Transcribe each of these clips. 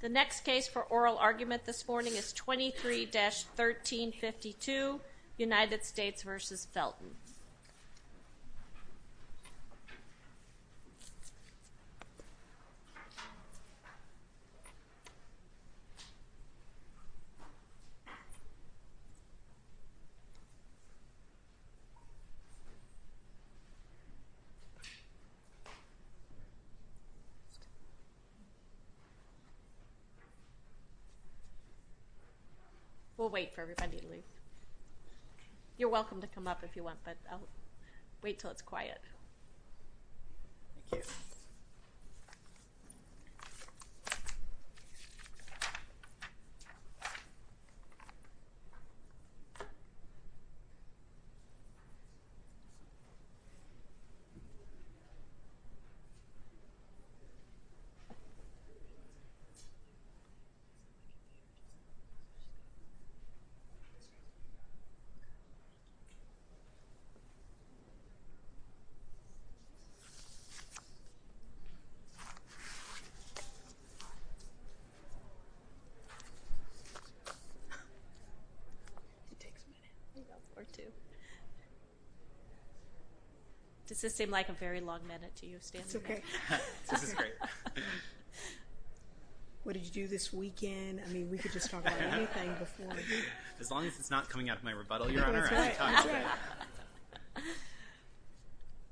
The next case for oral argument this morning is 23-1352, United States v. Felton We'll wait for everybody to leave. You're welcome to come up if you want, but I'll wait Does this seem like a very long minute to you standing there? This is great. What did you do this weekend? I mean, we could just talk about anything before. As long as it's not coming out of my rebuttal, Your Honor.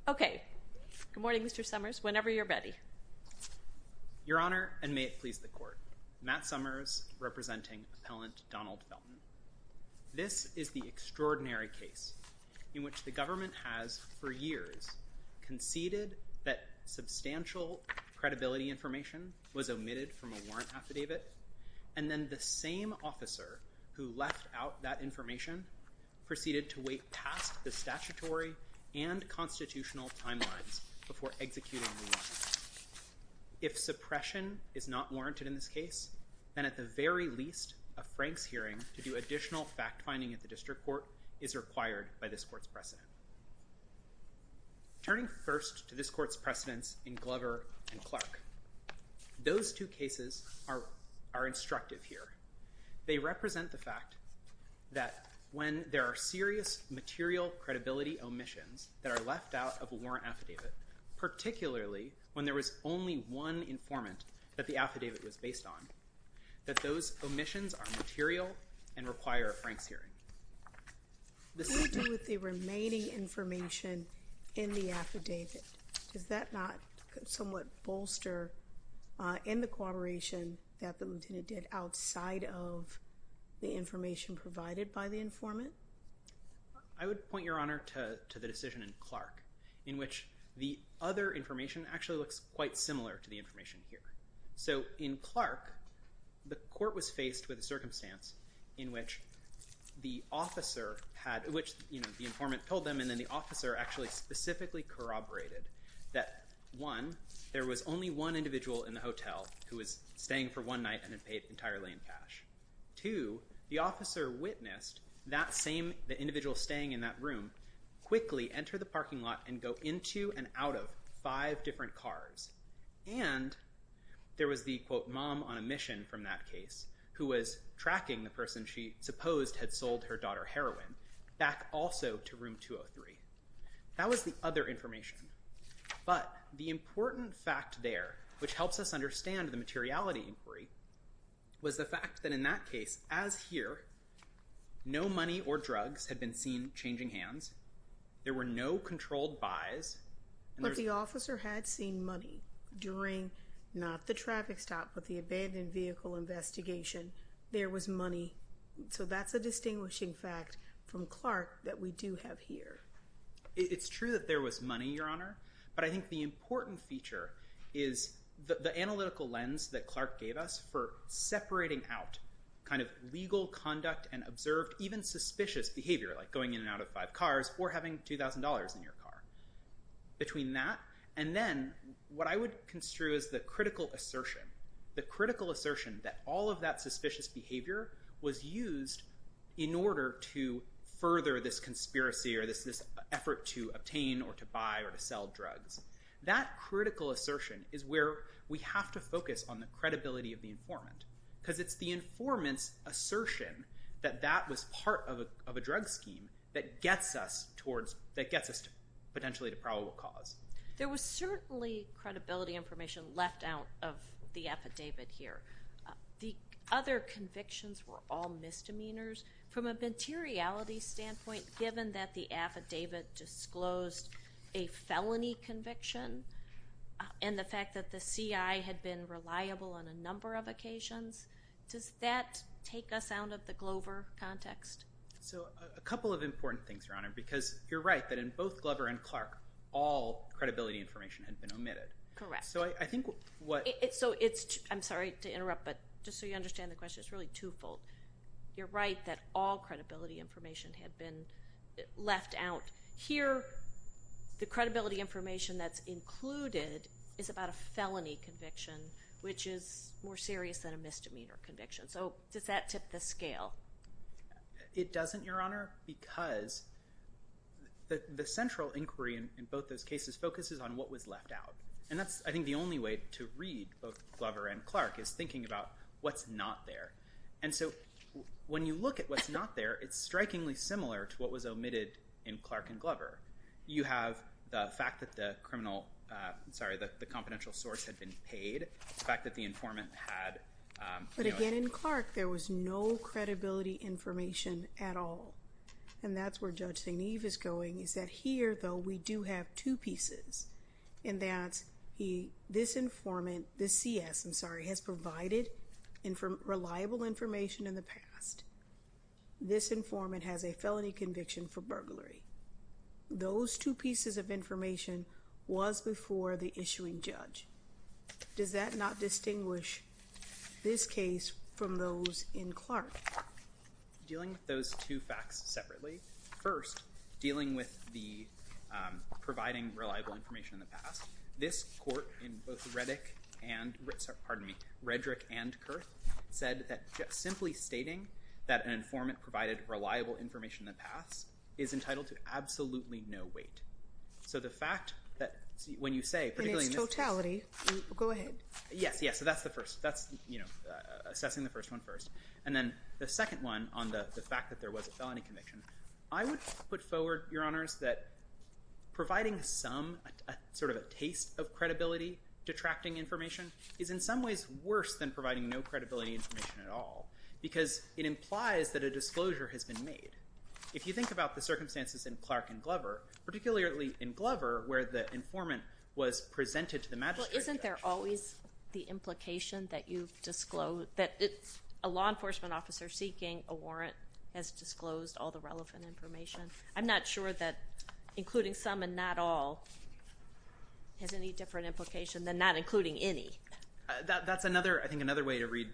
Okay. Good morning, Mr. Summers. Whenever you're ready. Your Honor, and may it please the Court, Matt Summers, representing Appellant Donald Felton. This is the extraordinary case in which the government has, for years, conceded that substantial credibility information was omitted from a warrant affidavit, and then the same officer who left out that information proceeded to wait past the statutory and constitutional timelines before executing the warrant. If suppression is not warranted in this case, then at the very least, a Franks hearing to do additional fact-finding at the district court is required by this Court's precedent. Turning first to this Court's precedents in Glover v. Clark, those two cases are instructive here. They represent the fact that when there are serious material credibility omissions that are left out of a warrant affidavit, particularly when there was only one informant that the affidavit was based on, that those omissions are material and require a Franks hearing. What do you do with the remaining information in the affidavit? Does that not somewhat bolster in the corroboration that the lieutenant did outside of the information provided by the informant? I would point, Your Honor, to the decision in Clark, in which the other information actually looks quite similar to the information here. In Clark, the Court was faced with a circumstance in which the informant told them and then the officer actually specifically corroborated that one, there was only one individual in the hotel who was staying for one night and had paid entirely in cash. Two, the officer witnessed that same individual staying in that room quickly enter the parking lot and go into and out of five different cars. And there was the, quote, mom on a mission from that case who was tracking the person she supposed had sold her daughter heroin back also to room 203. That was the other information. But the important fact there, which helps us understand the materiality inquiry, was the fact that in that case, as here, no money or drugs had been seen changing hands. There were no controlled buys. But the officer had seen money during, not the traffic stop, but the abandoned vehicle investigation. There was money. So that's a distinguishing fact from Clark that we do have here. It's true that there was money, Your Honor. But I think the important feature is the analytical lens that Clark gave us for separating out kind of legal conduct and observed even suspicious behavior, like going in and out of five cars or having $2,000 in your car. Between that and then what I would construe as the critical assertion, the critical assertion that all of that suspicious behavior was used in order to further this conspiracy or this effort to obtain or to buy or to sell drugs. That critical assertion is where we have to focus on the credibility of the informant. Because it's the informant's assertion that that was part of a drug scheme that gets us potentially to probable cause. There was certainly credibility information left out of the affidavit here. The other convictions were all misdemeanors. From a materiality standpoint, given that the affidavit disclosed a felony conviction and the fact that the CI had been reliable on a number of occasions, does that take us out of the Glover context? So a couple of important things, Your Honor, because you're right that in both Glover and Clark, all credibility information had been omitted. Correct. I'm sorry to interrupt, but just so you understand the question, it's really twofold. You're right that all credibility information had been left out. Here, the credibility information that's included is about a felony conviction, which is more serious than a misdemeanor conviction. So does that tip the scale? It doesn't, Your Honor, because the central inquiry in both those cases focuses on what was left out. And that's, I think, the only way to read both Glover and Clark is thinking about what's not there. And so when you look at what's not there, it's strikingly similar to what was omitted in Clark and Glover. You have the fact that the confidential source had been paid, the fact that the informant had— But again, in Clark, there was no credibility information at all. And that's where Judge St. Eve is going, is that here, though, we do have two pieces. And that's this informant, this CS, I'm sorry, has provided reliable information in the past. This informant has a felony conviction for burglary. Those two pieces of information was before the issuing judge. Does that not distinguish this case from those in Clark? Dealing with those two facts separately, first, dealing with the providing reliable information in the past, this court in both Redrick and Kurth said that simply stating that an informant provided reliable information in the past is entitled to absolutely no weight. So the fact that when you say— In its totality. Go ahead. Yes, yes, so that's the first. That's assessing the first one first. And then the second one on the fact that there was a felony conviction, I would put forward, Your Honors, that providing some sort of a taste of credibility detracting information is in some ways worse than providing no credibility information at all because it implies that a disclosure has been made. If you think about the circumstances in Clark and Glover, particularly in Glover where the informant was presented to the magistrate judge— The law enforcement officer seeking a warrant has disclosed all the relevant information. I'm not sure that including some and not all has any different implication than not including any. That's, I think, another way to read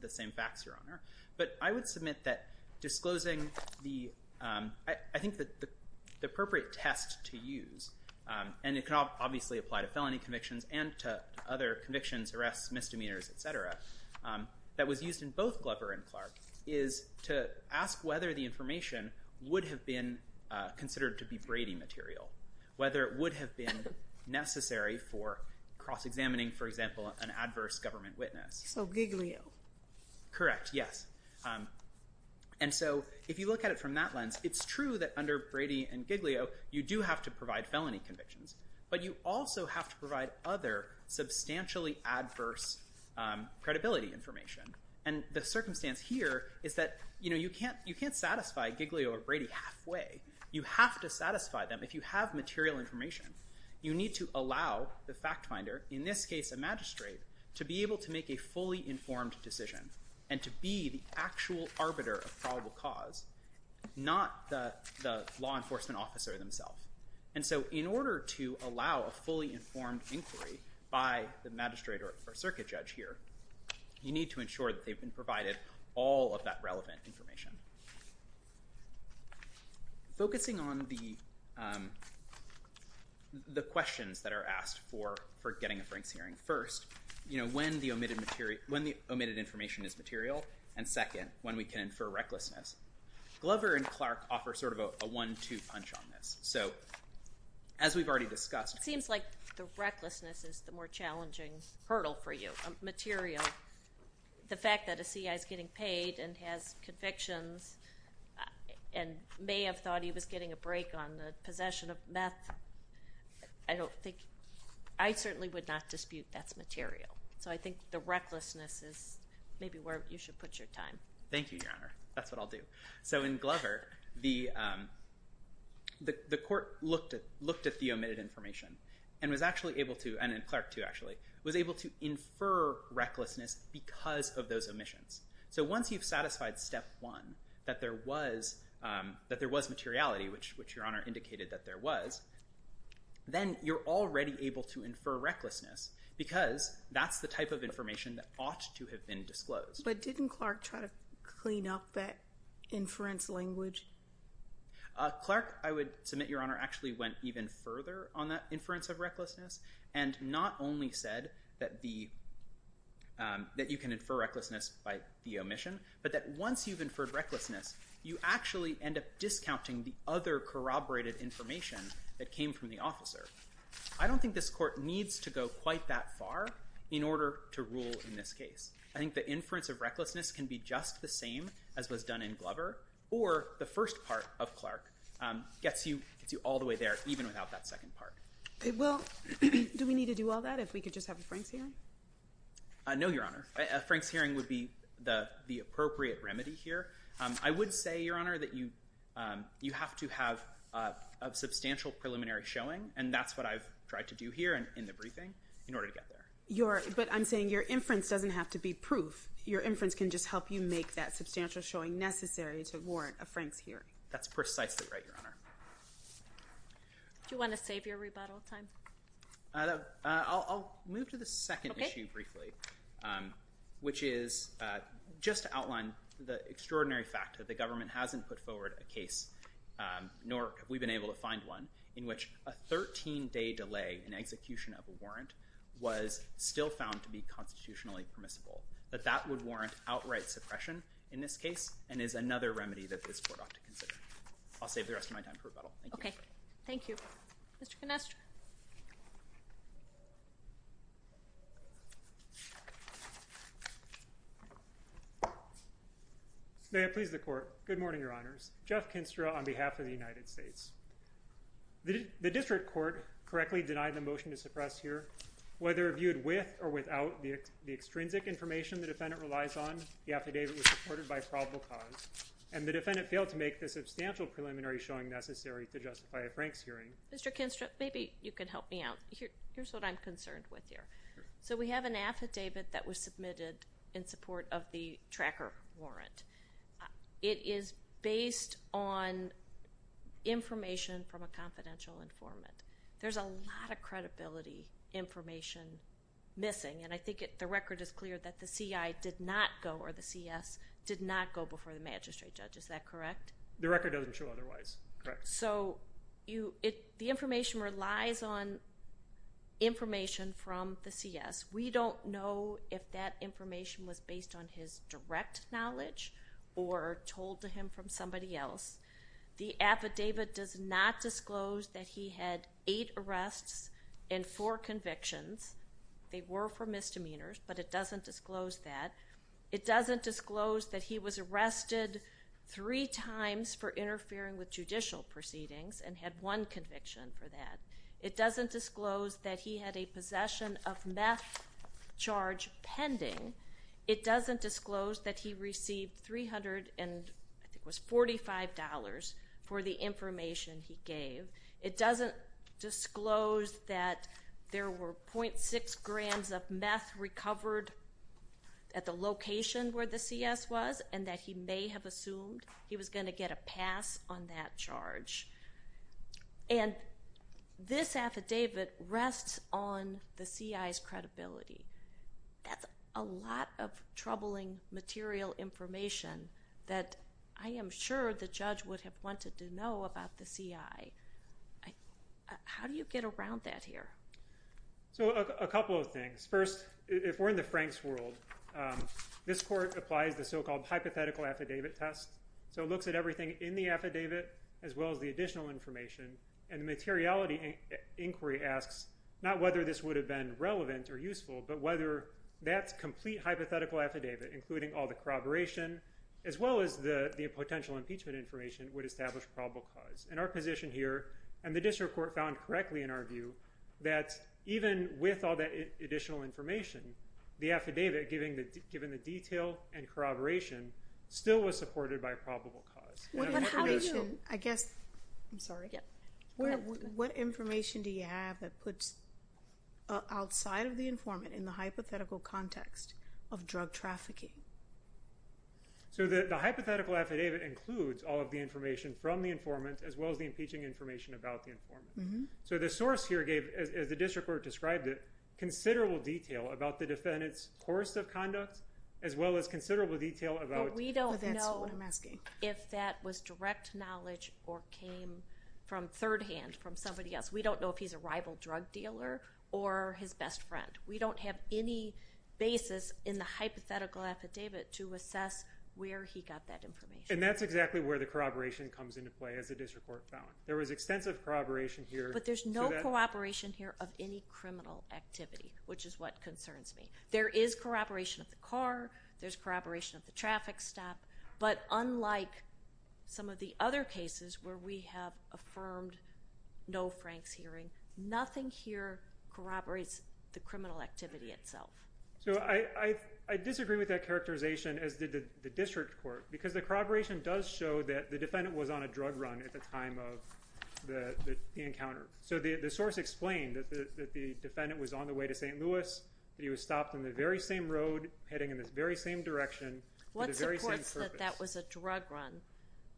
the same facts, Your Honor. But I would submit that disclosing the—I think the appropriate test to use, and it can obviously apply to felony convictions and to other convictions, arrests, misdemeanors, et cetera, that was used in both Glover and Clark is to ask whether the information would have been considered to be Brady material, whether it would have been necessary for cross-examining, for example, an adverse government witness. So Giglio. Correct, yes. And so if you look at it from that lens, it's true that under Brady and Giglio you do have to provide felony convictions, but you also have to provide other substantially adverse credibility information. And the circumstance here is that, you know, you can't satisfy Giglio or Brady halfway. You have to satisfy them if you have material information. You need to allow the fact finder, in this case a magistrate, to be able to make a fully informed decision and to be the actual arbiter of probable cause, not the law enforcement officer themselves. And so in order to allow a fully informed inquiry by the magistrate or circuit judge here, you need to ensure that they've been provided all of that relevant information. Focusing on the questions that are asked for getting a Franks hearing, first, you know, when the omitted information is material, and second, when we can infer recklessness, Glover and Clark offer sort of a one-two punch on this. So as we've already discussed. It seems like the recklessness is the more challenging hurdle for you, material. The fact that a CI is getting paid and has convictions and may have thought he was getting a break on the possession of meth, I don't think, I certainly would not dispute that's material. So I think the recklessness is maybe where you should put your time. Thank you, Your Honor. That's what I'll do. So in Glover, the court looked at the omitted information and was actually able to, and in Clark, too, actually, was able to infer recklessness because of those omissions. So once you've satisfied step one, that there was materiality, which Your Honor indicated that there was, then you're already able to infer recklessness because that's the type of information that ought to have been disclosed. But didn't Clark try to clean up that inference language? Clark, I would submit, Your Honor, actually went even further on that inference of recklessness and not only said that you can infer recklessness by the omission, but that once you've inferred recklessness, you actually end up discounting the other corroborated information that came from the officer. I don't think this court needs to go quite that far in order to rule in this case. I think the inference of recklessness can be just the same as was done in Glover, or the first part of Clark gets you all the way there even without that second part. Well, do we need to do all that if we could just have a Franks hearing? No, Your Honor. A Franks hearing would be the appropriate remedy here. I would say, Your Honor, that you have to have a substantial preliminary showing, and that's what I've tried to do here and in the briefing in order to get there. But I'm saying your inference doesn't have to be proof. Your inference can just help you make that substantial showing necessary to warrant a Franks hearing. That's precisely right, Your Honor. Do you want to save your rebuttal time? I'll move to the second issue briefly, which is just to outline the extraordinary fact that the government hasn't put forward a case, nor have we been able to find one, in which a 13-day delay in execution of a warrant was still found to be constitutionally permissible. That that would warrant outright suppression in this case and is another remedy that this Court ought to consider. I'll save the rest of my time for rebuttal. Okay. Thank you. Mr. Kinestra. May it please the Court. Good morning, Your Honors. Jeff Kinestra on behalf of the United States. The district court correctly denied the motion to suppress here. Whether viewed with or without the extrinsic information the defendant relies on, the affidavit was supported by probable cause, and the defendant failed to make the substantial preliminary showing necessary to justify a Franks hearing. Mr. Kinestra, maybe you can help me out. Here's what I'm concerned with here. So we have an affidavit that was submitted in support of the tracker warrant. It is based on information from a confidential informant. There's a lot of credibility information missing, and I think the record is clear that the CI did not go, or the CS, did not go before the magistrate judge. Is that correct? The record doesn't show otherwise. Correct. So the information relies on information from the CS. We don't know if that information was based on his direct knowledge or told to him from somebody else. The affidavit does not disclose that he had eight arrests and four convictions. They were for misdemeanors, but it doesn't disclose that. It doesn't disclose that he was arrested three times for interfering with judicial proceedings and had one conviction for that. It doesn't disclose that he had a possession of meth charge pending. It doesn't disclose that he received $345 for the information he gave. It doesn't disclose that there were .6 grams of meth recovered at the location where the CS was and that he may have assumed he was going to get a pass on that charge. And this affidavit rests on the CI's credibility. That's a lot of troubling material information that I am sure the judge would have wanted to know about the CI. How do you get around that here? So a couple of things. First, if we're in the Franks world, this court applies the so-called hypothetical affidavit test. So it looks at everything in the affidavit, as well as the additional information, and the materiality inquiry asks not whether this would have been relevant or useful, but whether that complete hypothetical affidavit, including all the corroboration, as well as the potential impeachment information, would establish probable cause. And our position here, and the district court found correctly in our view, that even with all that additional information, the affidavit, given the detail and corroboration, still was supported by probable cause. What information do you have that puts, outside of the informant, in the hypothetical context of drug trafficking? So the hypothetical affidavit includes all of the information from the informant, as well as the impeaching information about the informant. So the source here gave, as the district court described it, considerable detail about the defendant's course of conduct, as well as considerable detail about... But we don't know if that was direct knowledge or came from third-hand from somebody else. We don't know if he's a rival drug dealer or his best friend. We don't have any basis in the hypothetical affidavit to assess where he got that information. And that's exactly where the corroboration comes into play, as the district court found. There was extensive corroboration here... But there's no corroboration here of any criminal activity, which is what concerns me. There is corroboration of the car. There's corroboration of the traffic stop. But unlike some of the other cases where we have affirmed no Frank's hearing, nothing here corroborates the criminal activity itself. So I disagree with that characterization, as did the district court, because the corroboration does show that the defendant was on a drug run at the time of the encounter. So the source explained that the defendant was on the way to St. Louis, that he was stopped on the very same road heading in this very same direction for the very same purpose. What supports that that was a drug run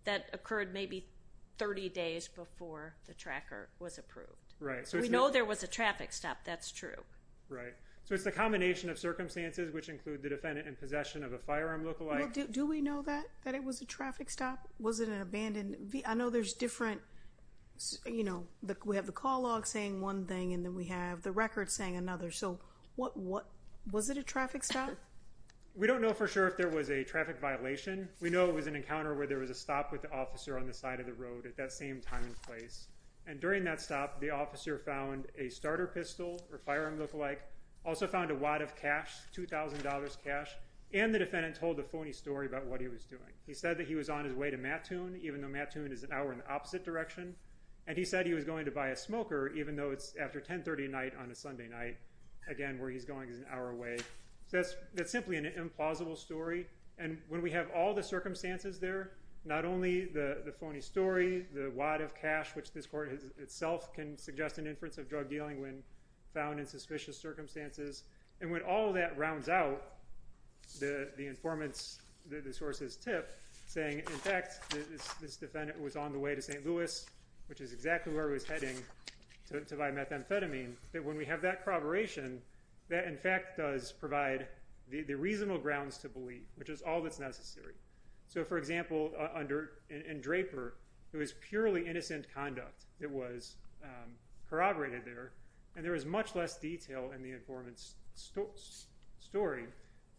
that occurred maybe 30 days before the tracker was approved? Right. We know there was a traffic stop. That's true. Right. So it's the combination of circumstances, which include the defendant in possession of a firearm lookalike. Do we know that, that it was a traffic stop? Was it an abandoned vehicle? I know there's different, you know, we have the call log saying one thing, and then we have the record saying another. So what was it a traffic stop? We don't know for sure if there was a traffic violation. We know it was an encounter where there was a stop with the officer on the side of the road at that same time and place. And during that stop, the officer found a starter pistol or firearm lookalike, also found a wad of cash, $2,000 cash. And the defendant told a phony story about what he was doing. He said that he was on his way to Mattoon, even though Mattoon is an hour in the opposite direction. And he said he was going to buy a smoker, even though it's after 1030 at night on a Sunday night. Again, where he's going is an hour away. So that's simply an implausible story. And when we have all the circumstances there, not only the phony story, the wad of cash, which this court itself can suggest an inference of drug dealing when found in suspicious circumstances. And when all that rounds out, the informants, the sources tip, saying, in fact, this defendant was on the way to St. Louis, which is exactly where he was heading, to buy methamphetamine, that when we have that corroboration, that in fact does provide the reasonable grounds to believe, which is all that's necessary. So, for example, in Draper, it was purely innocent conduct that was corroborated there. And there was much less detail in the informant's story.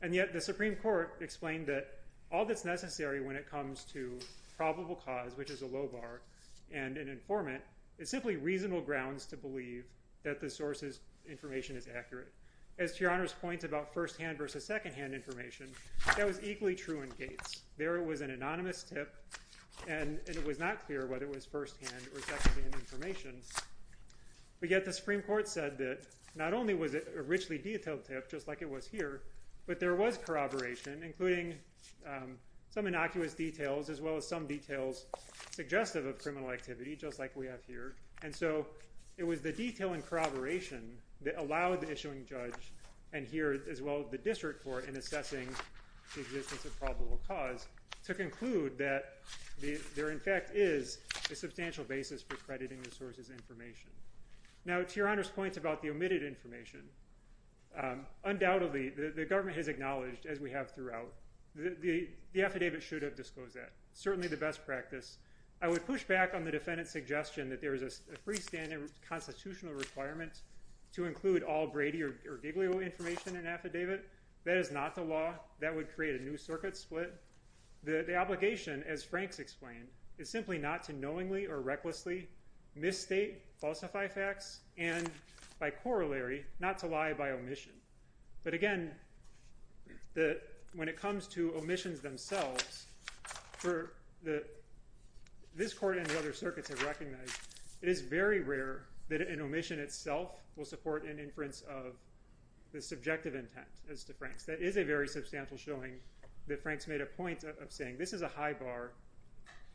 And yet the Supreme Court explained that all that's necessary when it comes to probable cause, which is a low bar, and an informant, is simply reasonable grounds to believe that the source's information is accurate. As to Your Honor's point about first-hand versus second-hand information, that was equally true in Gates. There it was an anonymous tip, and it was not clear whether it was first-hand or second-hand information. But yet the Supreme Court said that not only was it a richly detailed tip, just like it was here, but there was corroboration, including some innocuous details as well as some details suggestive of criminal activity, just like we have here. And so it was the detail and corroboration that allowed the issuing judge and here as well as the district court in assessing the existence of probable cause to conclude that there, in fact, is a substantial basis for crediting the source's information. Now, to Your Honor's point about the omitted information, undoubtedly the government has acknowledged, as we have throughout, the affidavit should have disclosed that. It's certainly the best practice. I would push back on the defendant's suggestion that there is a freestanding constitutional requirement to include all Brady or Giglio information in an affidavit. That is not the law. That would create a new circuit split. The obligation, as Frank's explained, is simply not to knowingly or recklessly misstate, falsify facts, and by corollary, not to lie by omission. But again, when it comes to omissions themselves, this court and the other circuits have recognized it is very rare that an omission itself will support an inference of the subjective intent, as to Frank's. That is a very substantial showing that Frank's made a point of saying this is a high bar,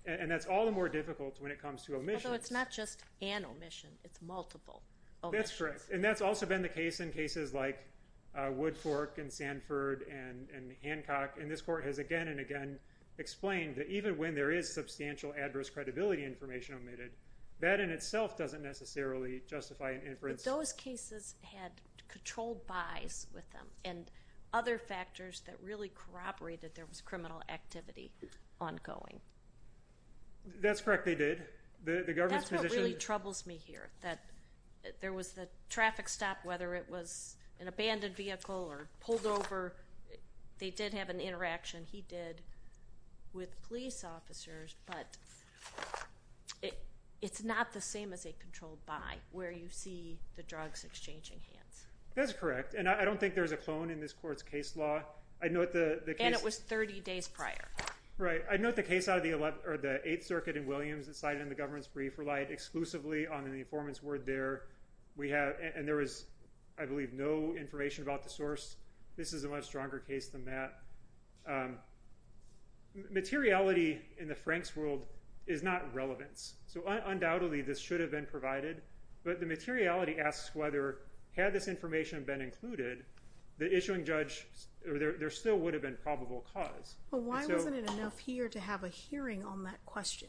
and that's all the more difficult when it comes to omissions. Although it's not just an omission. It's multiple omissions. That's correct. And that's also been the case in cases like Woodcork and Sanford and Hancock. And this court has again and again explained that even when there is substantial adverse credibility information omitted, that in itself doesn't necessarily justify an inference. Those cases had controlled bys with them and other factors that really corroborated there was criminal activity ongoing. That's correct. They did. That's what really troubles me here, that there was the traffic stop, whether it was an abandoned vehicle or pulled over, they did have an interaction, he did, with police officers. But it's not the same as a controlled by, where you see the drugs exchanging hands. That's correct. And I don't think there's a clone in this court's case law. And it was 30 days prior. Right. I note the case out of the Eighth Circuit in Williams, it's cited in the government's brief, relied exclusively on an informant's word there. And there was, I believe, no information about the source. This is a much stronger case than that. Materiality in the Franks' world is not relevance. So undoubtedly, this should have been provided. But the materiality asks whether, had this information been included, the issuing judge, there still would have been probable cause. But why wasn't it enough here to have a hearing on that question?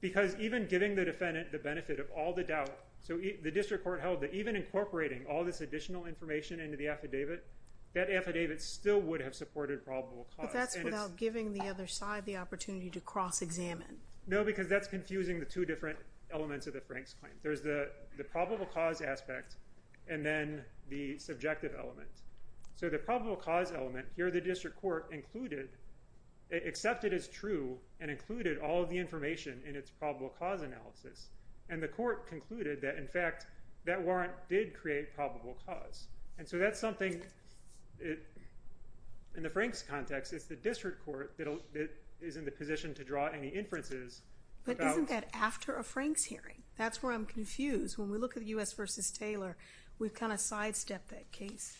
Because even giving the defendant the benefit of all the doubt, so the district court held that even incorporating all this additional information into the affidavit, that affidavit still would have supported probable cause. But that's without giving the other side the opportunity to cross-examine. No, because that's confusing the two different elements of the Franks' claim. There's the probable cause aspect and then the subjective element. So the probable cause element, here the district court accepted as true and included all of the information in its probable cause analysis. And the court concluded that, in fact, that warrant did create probable cause. And so that's something, in the Franks' context, it's the district court that is in the position to draw any inferences. But isn't that after a Franks' hearing? That's where I'm confused. When we look at U.S. v. Taylor, we've kind of sidestepped that case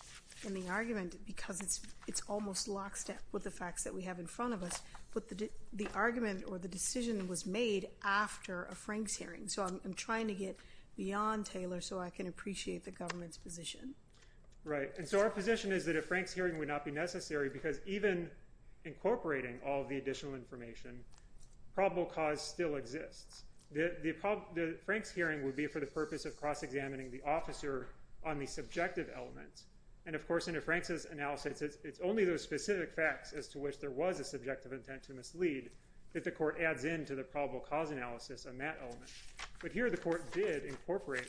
in the argument because it's almost lockstep with the facts that we have in front of us. So I'm trying to get beyond Taylor so I can appreciate the government's position. Right. And so our position is that a Franks' hearing would not be necessary because even incorporating all of the additional information, probable cause still exists. The Franks' hearing would be for the purpose of cross-examining the officer on the subjective element. And, of course, in a Franks' analysis, it's only those specific facts as to which there was a subjective intent to mislead that the court adds in to the probable cause analysis on that element. But here the court did incorporate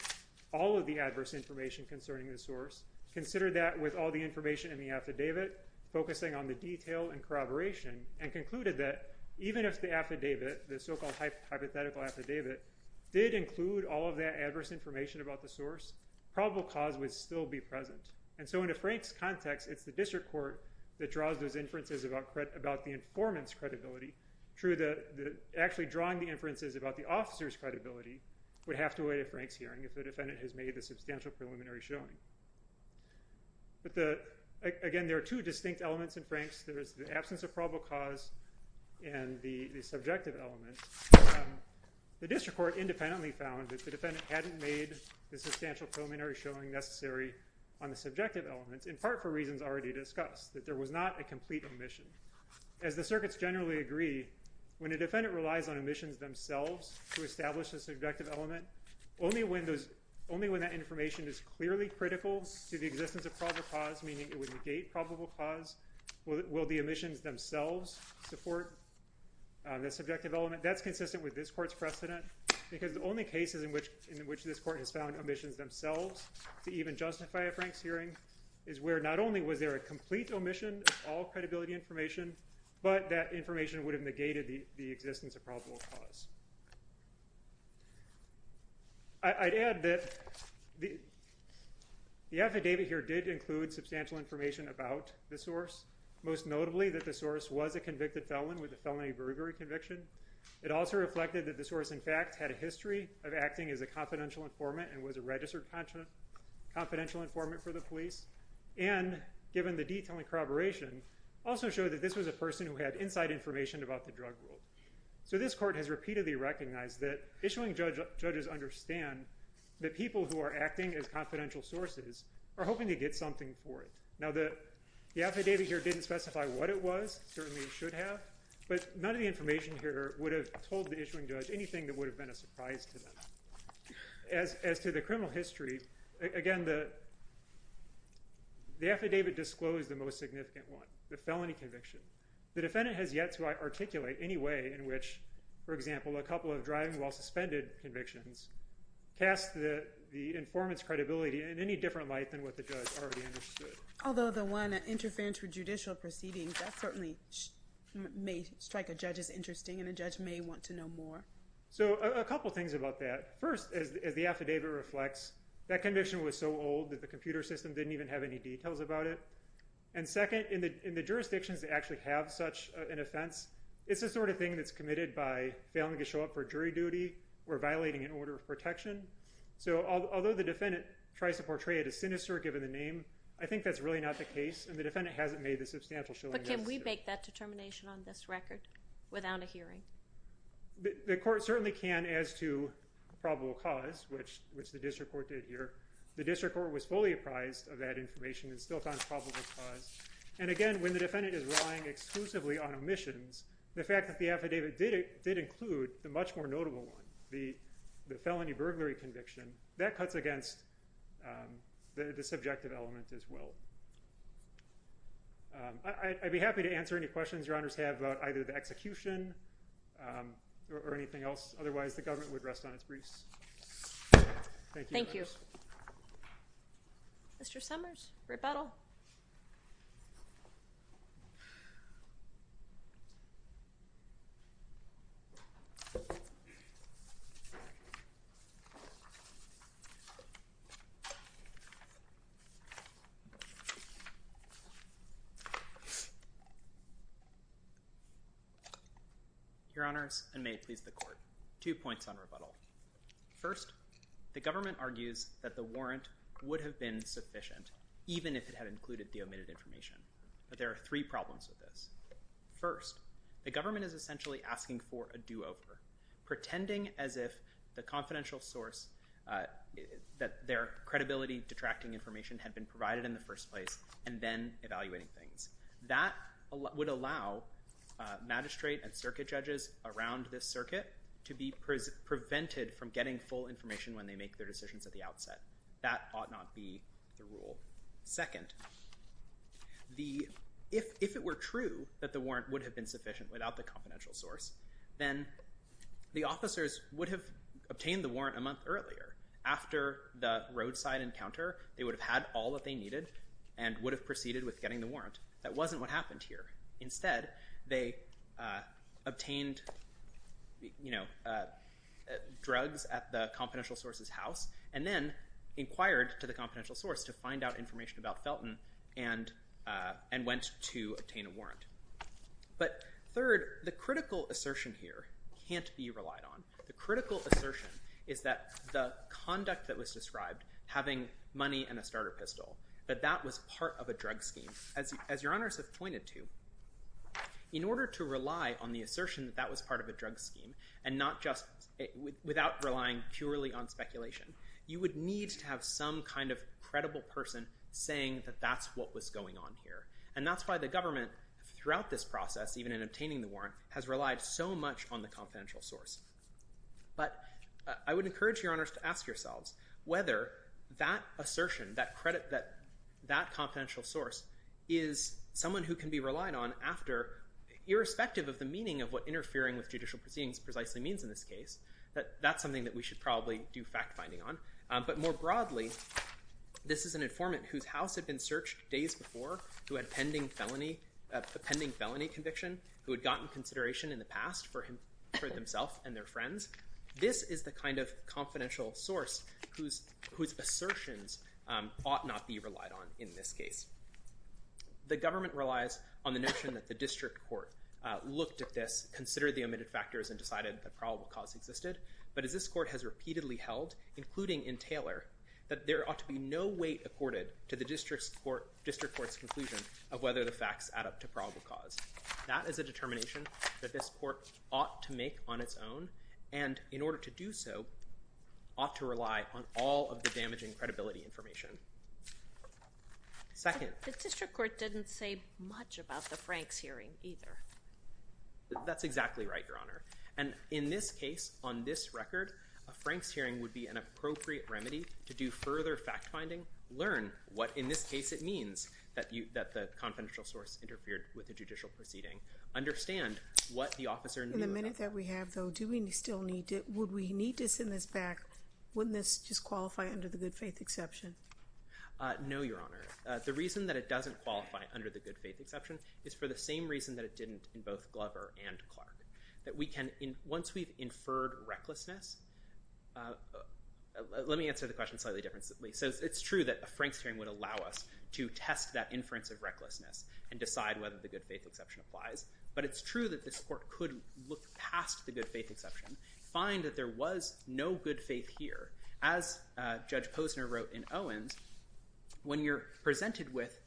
all of the adverse information concerning the source, considered that with all the information in the affidavit, focusing on the detail and corroboration, and concluded that even if the affidavit, the so-called hypothetical affidavit, did include all of that adverse information about the source, probable cause would still be present. And so in a Franks' context, it's the district court that draws those inferences about the informant's credibility through actually drawing the inferences about the officer's credibility would have to await a Franks' hearing if the defendant has made a substantial preliminary showing. But, again, there are two distinct elements in Franks'. There is the absence of probable cause and the subjective element. The district court independently found that the defendant hadn't made the substantial preliminary showing necessary on the subjective element, in part for reasons already discussed, that there was not a complete omission. As the circuits generally agree, when a defendant relies on omissions themselves to establish a subjective element, only when that information is clearly critical to the existence of probable cause, meaning it would negate probable cause, will the omissions themselves support the subjective element. That's consistent with this court's precedent because the only cases in which this court has found omissions themselves to even justify a Franks' hearing is where not only was there a complete omission of all credibility information, but that information would have negated the existence of probable cause. I'd add that the affidavit here did include substantial information about the source, most notably that the source was a convicted felon with a felony bravery conviction. It also reflected that the source, in fact, had a history of acting as a confidential informant and was a registered confidential informant for the police, and given the detailing corroboration, also showed that this was a person who had inside information about the drug rule. So this court has repeatedly recognized that issuing judges understand that people who are acting as confidential sources are hoping to get something for it. Now, the affidavit here didn't specify what it was, certainly it should have, but none of the information here would have told the issuing judge anything that would have been a surprise to them. As to the criminal history, again, the affidavit disclosed the most significant one, the felony conviction. The defendant has yet to articulate any way in which, for example, a couple of driving while suspended convictions cast the informant's credibility in any different light than what the judge already understood. Although the one interference with judicial proceedings, that certainly may strike a judge as interesting, and a judge may want to know more. So a couple things about that. First, as the affidavit reflects, that conviction was so old that the computer system didn't even have any details about it. And second, in the jurisdictions that actually have such an offense, it's the sort of thing that's committed by failing to show up for jury duty or violating an order of protection. So although the defendant tries to portray it as sinister, given the name, I think that's really not the case, and the defendant hasn't made the substantial showing necessary. But can we make that determination on this record without a hearing? The court certainly can as to probable cause, which the district court did here. The district court was fully apprised of that information and still found probable cause. And again, when the defendant is relying exclusively on omissions, the fact that the affidavit did include the much more notable one, the felony burglary conviction, that cuts against the subjective element as well. I'd be happy to answer any questions your honors have about either the execution or anything else. Otherwise, the government would rest on its briefs. Thank you. Thank you. Mr. Summers, rebuttal. Your honors, and may it please the court, two points on rebuttal. First, the government argues that the warrant would have been sufficient even if it had included the omitted information. But there are three problems with this. First, the government is essentially asking for a do-over, pretending as if the confidential source, that their credibility-detracting information had been provided in the first place and then evaluating things. That would allow magistrate and circuit judges around this circuit to be prevented from getting full information when they make their decisions at the outset. That ought not be the rule. Second, if it were true that the warrant would have been sufficient without the confidential source, then the officers would have obtained the warrant a month earlier. After the roadside encounter, they would have had all that they needed and would have proceeded with getting the warrant. That wasn't what happened here. Instead, they obtained drugs at the confidential source's house and then inquired to the confidential source to find out information about Felton and went to obtain a warrant. But third, the critical assertion here can't be relied on. The critical assertion is that the conduct that was described, having money and a starter pistol, that that was part of a drug scheme. As Your Honors have pointed to, in order to rely on the assertion that that was part of a drug scheme and not just without relying purely on speculation, you would need to have some kind of credible person saying that that's what was going on here. And that's why the government, throughout this process, even in obtaining the warrant, has relied so much on the confidential source. But I would encourage Your Honors to ask yourselves whether that assertion, that confidential source, is someone who can be relied on after, irrespective of the meaning of what interfering with judicial proceedings precisely means in this case, that that's something that we should probably do fact-finding on. But more broadly, this is an informant whose house had been searched days before who had a pending felony conviction, who had gotten consideration in the past for himself and their friends. This is the kind of confidential source whose assertions ought not be relied on in this case. The government relies on the notion that the district court looked at this, considered the omitted factors, and decided that probable cause existed. But as this court has repeatedly held, including in Taylor, that there ought to be no weight accorded to the district court's conclusion of whether the facts add up to probable cause. That is a determination that this court ought to make on its own and, in order to do so, ought to rely on all of the damaging credibility information. Second. The district court didn't say much about the Franks hearing either. That's exactly right, Your Honor. And in this case, on this record, a Franks hearing would be an appropriate remedy to do further fact-finding, learn what, in this case, it means understand what the officer knew about it. Given the minute that we have, though, would we need to send this back? Wouldn't this just qualify under the good-faith exception? No, Your Honor. The reason that it doesn't qualify under the good-faith exception is for the same reason that it didn't in both Glover and Clark. Once we've inferred recklessness, let me answer the question slightly differently. It's true that a Franks hearing would allow us to test that inference of recklessness and decide whether the good-faith exception applies, but it's true that this court could look past the good-faith exception, find that there was no good faith here. As Judge Posner wrote in Owens, when you're presented with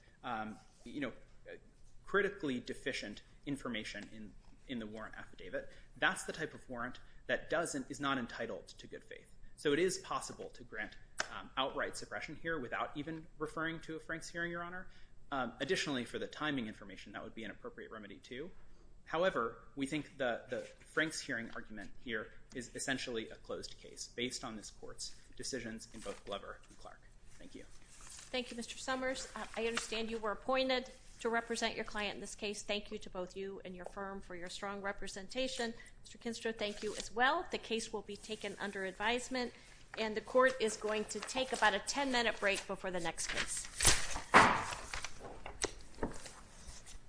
critically deficient information in the warrant affidavit, that's the type of warrant that is not entitled to good faith. So it is possible to grant outright suppression here without even referring to a Franks hearing, Your Honor. Additionally, for the timing information, that would be an appropriate remedy too. However, we think the Franks hearing argument here is essentially a closed case based on this court's decisions in both Glover and Clark. Thank you. Thank you, Mr. Summers. I understand you were appointed to represent your client in this case. Thank you to both you and your firm for your strong representation. Mr. Kinster, thank you as well. The case will be taken under advisement, and the court is going to take about a 10-minute break before the next case.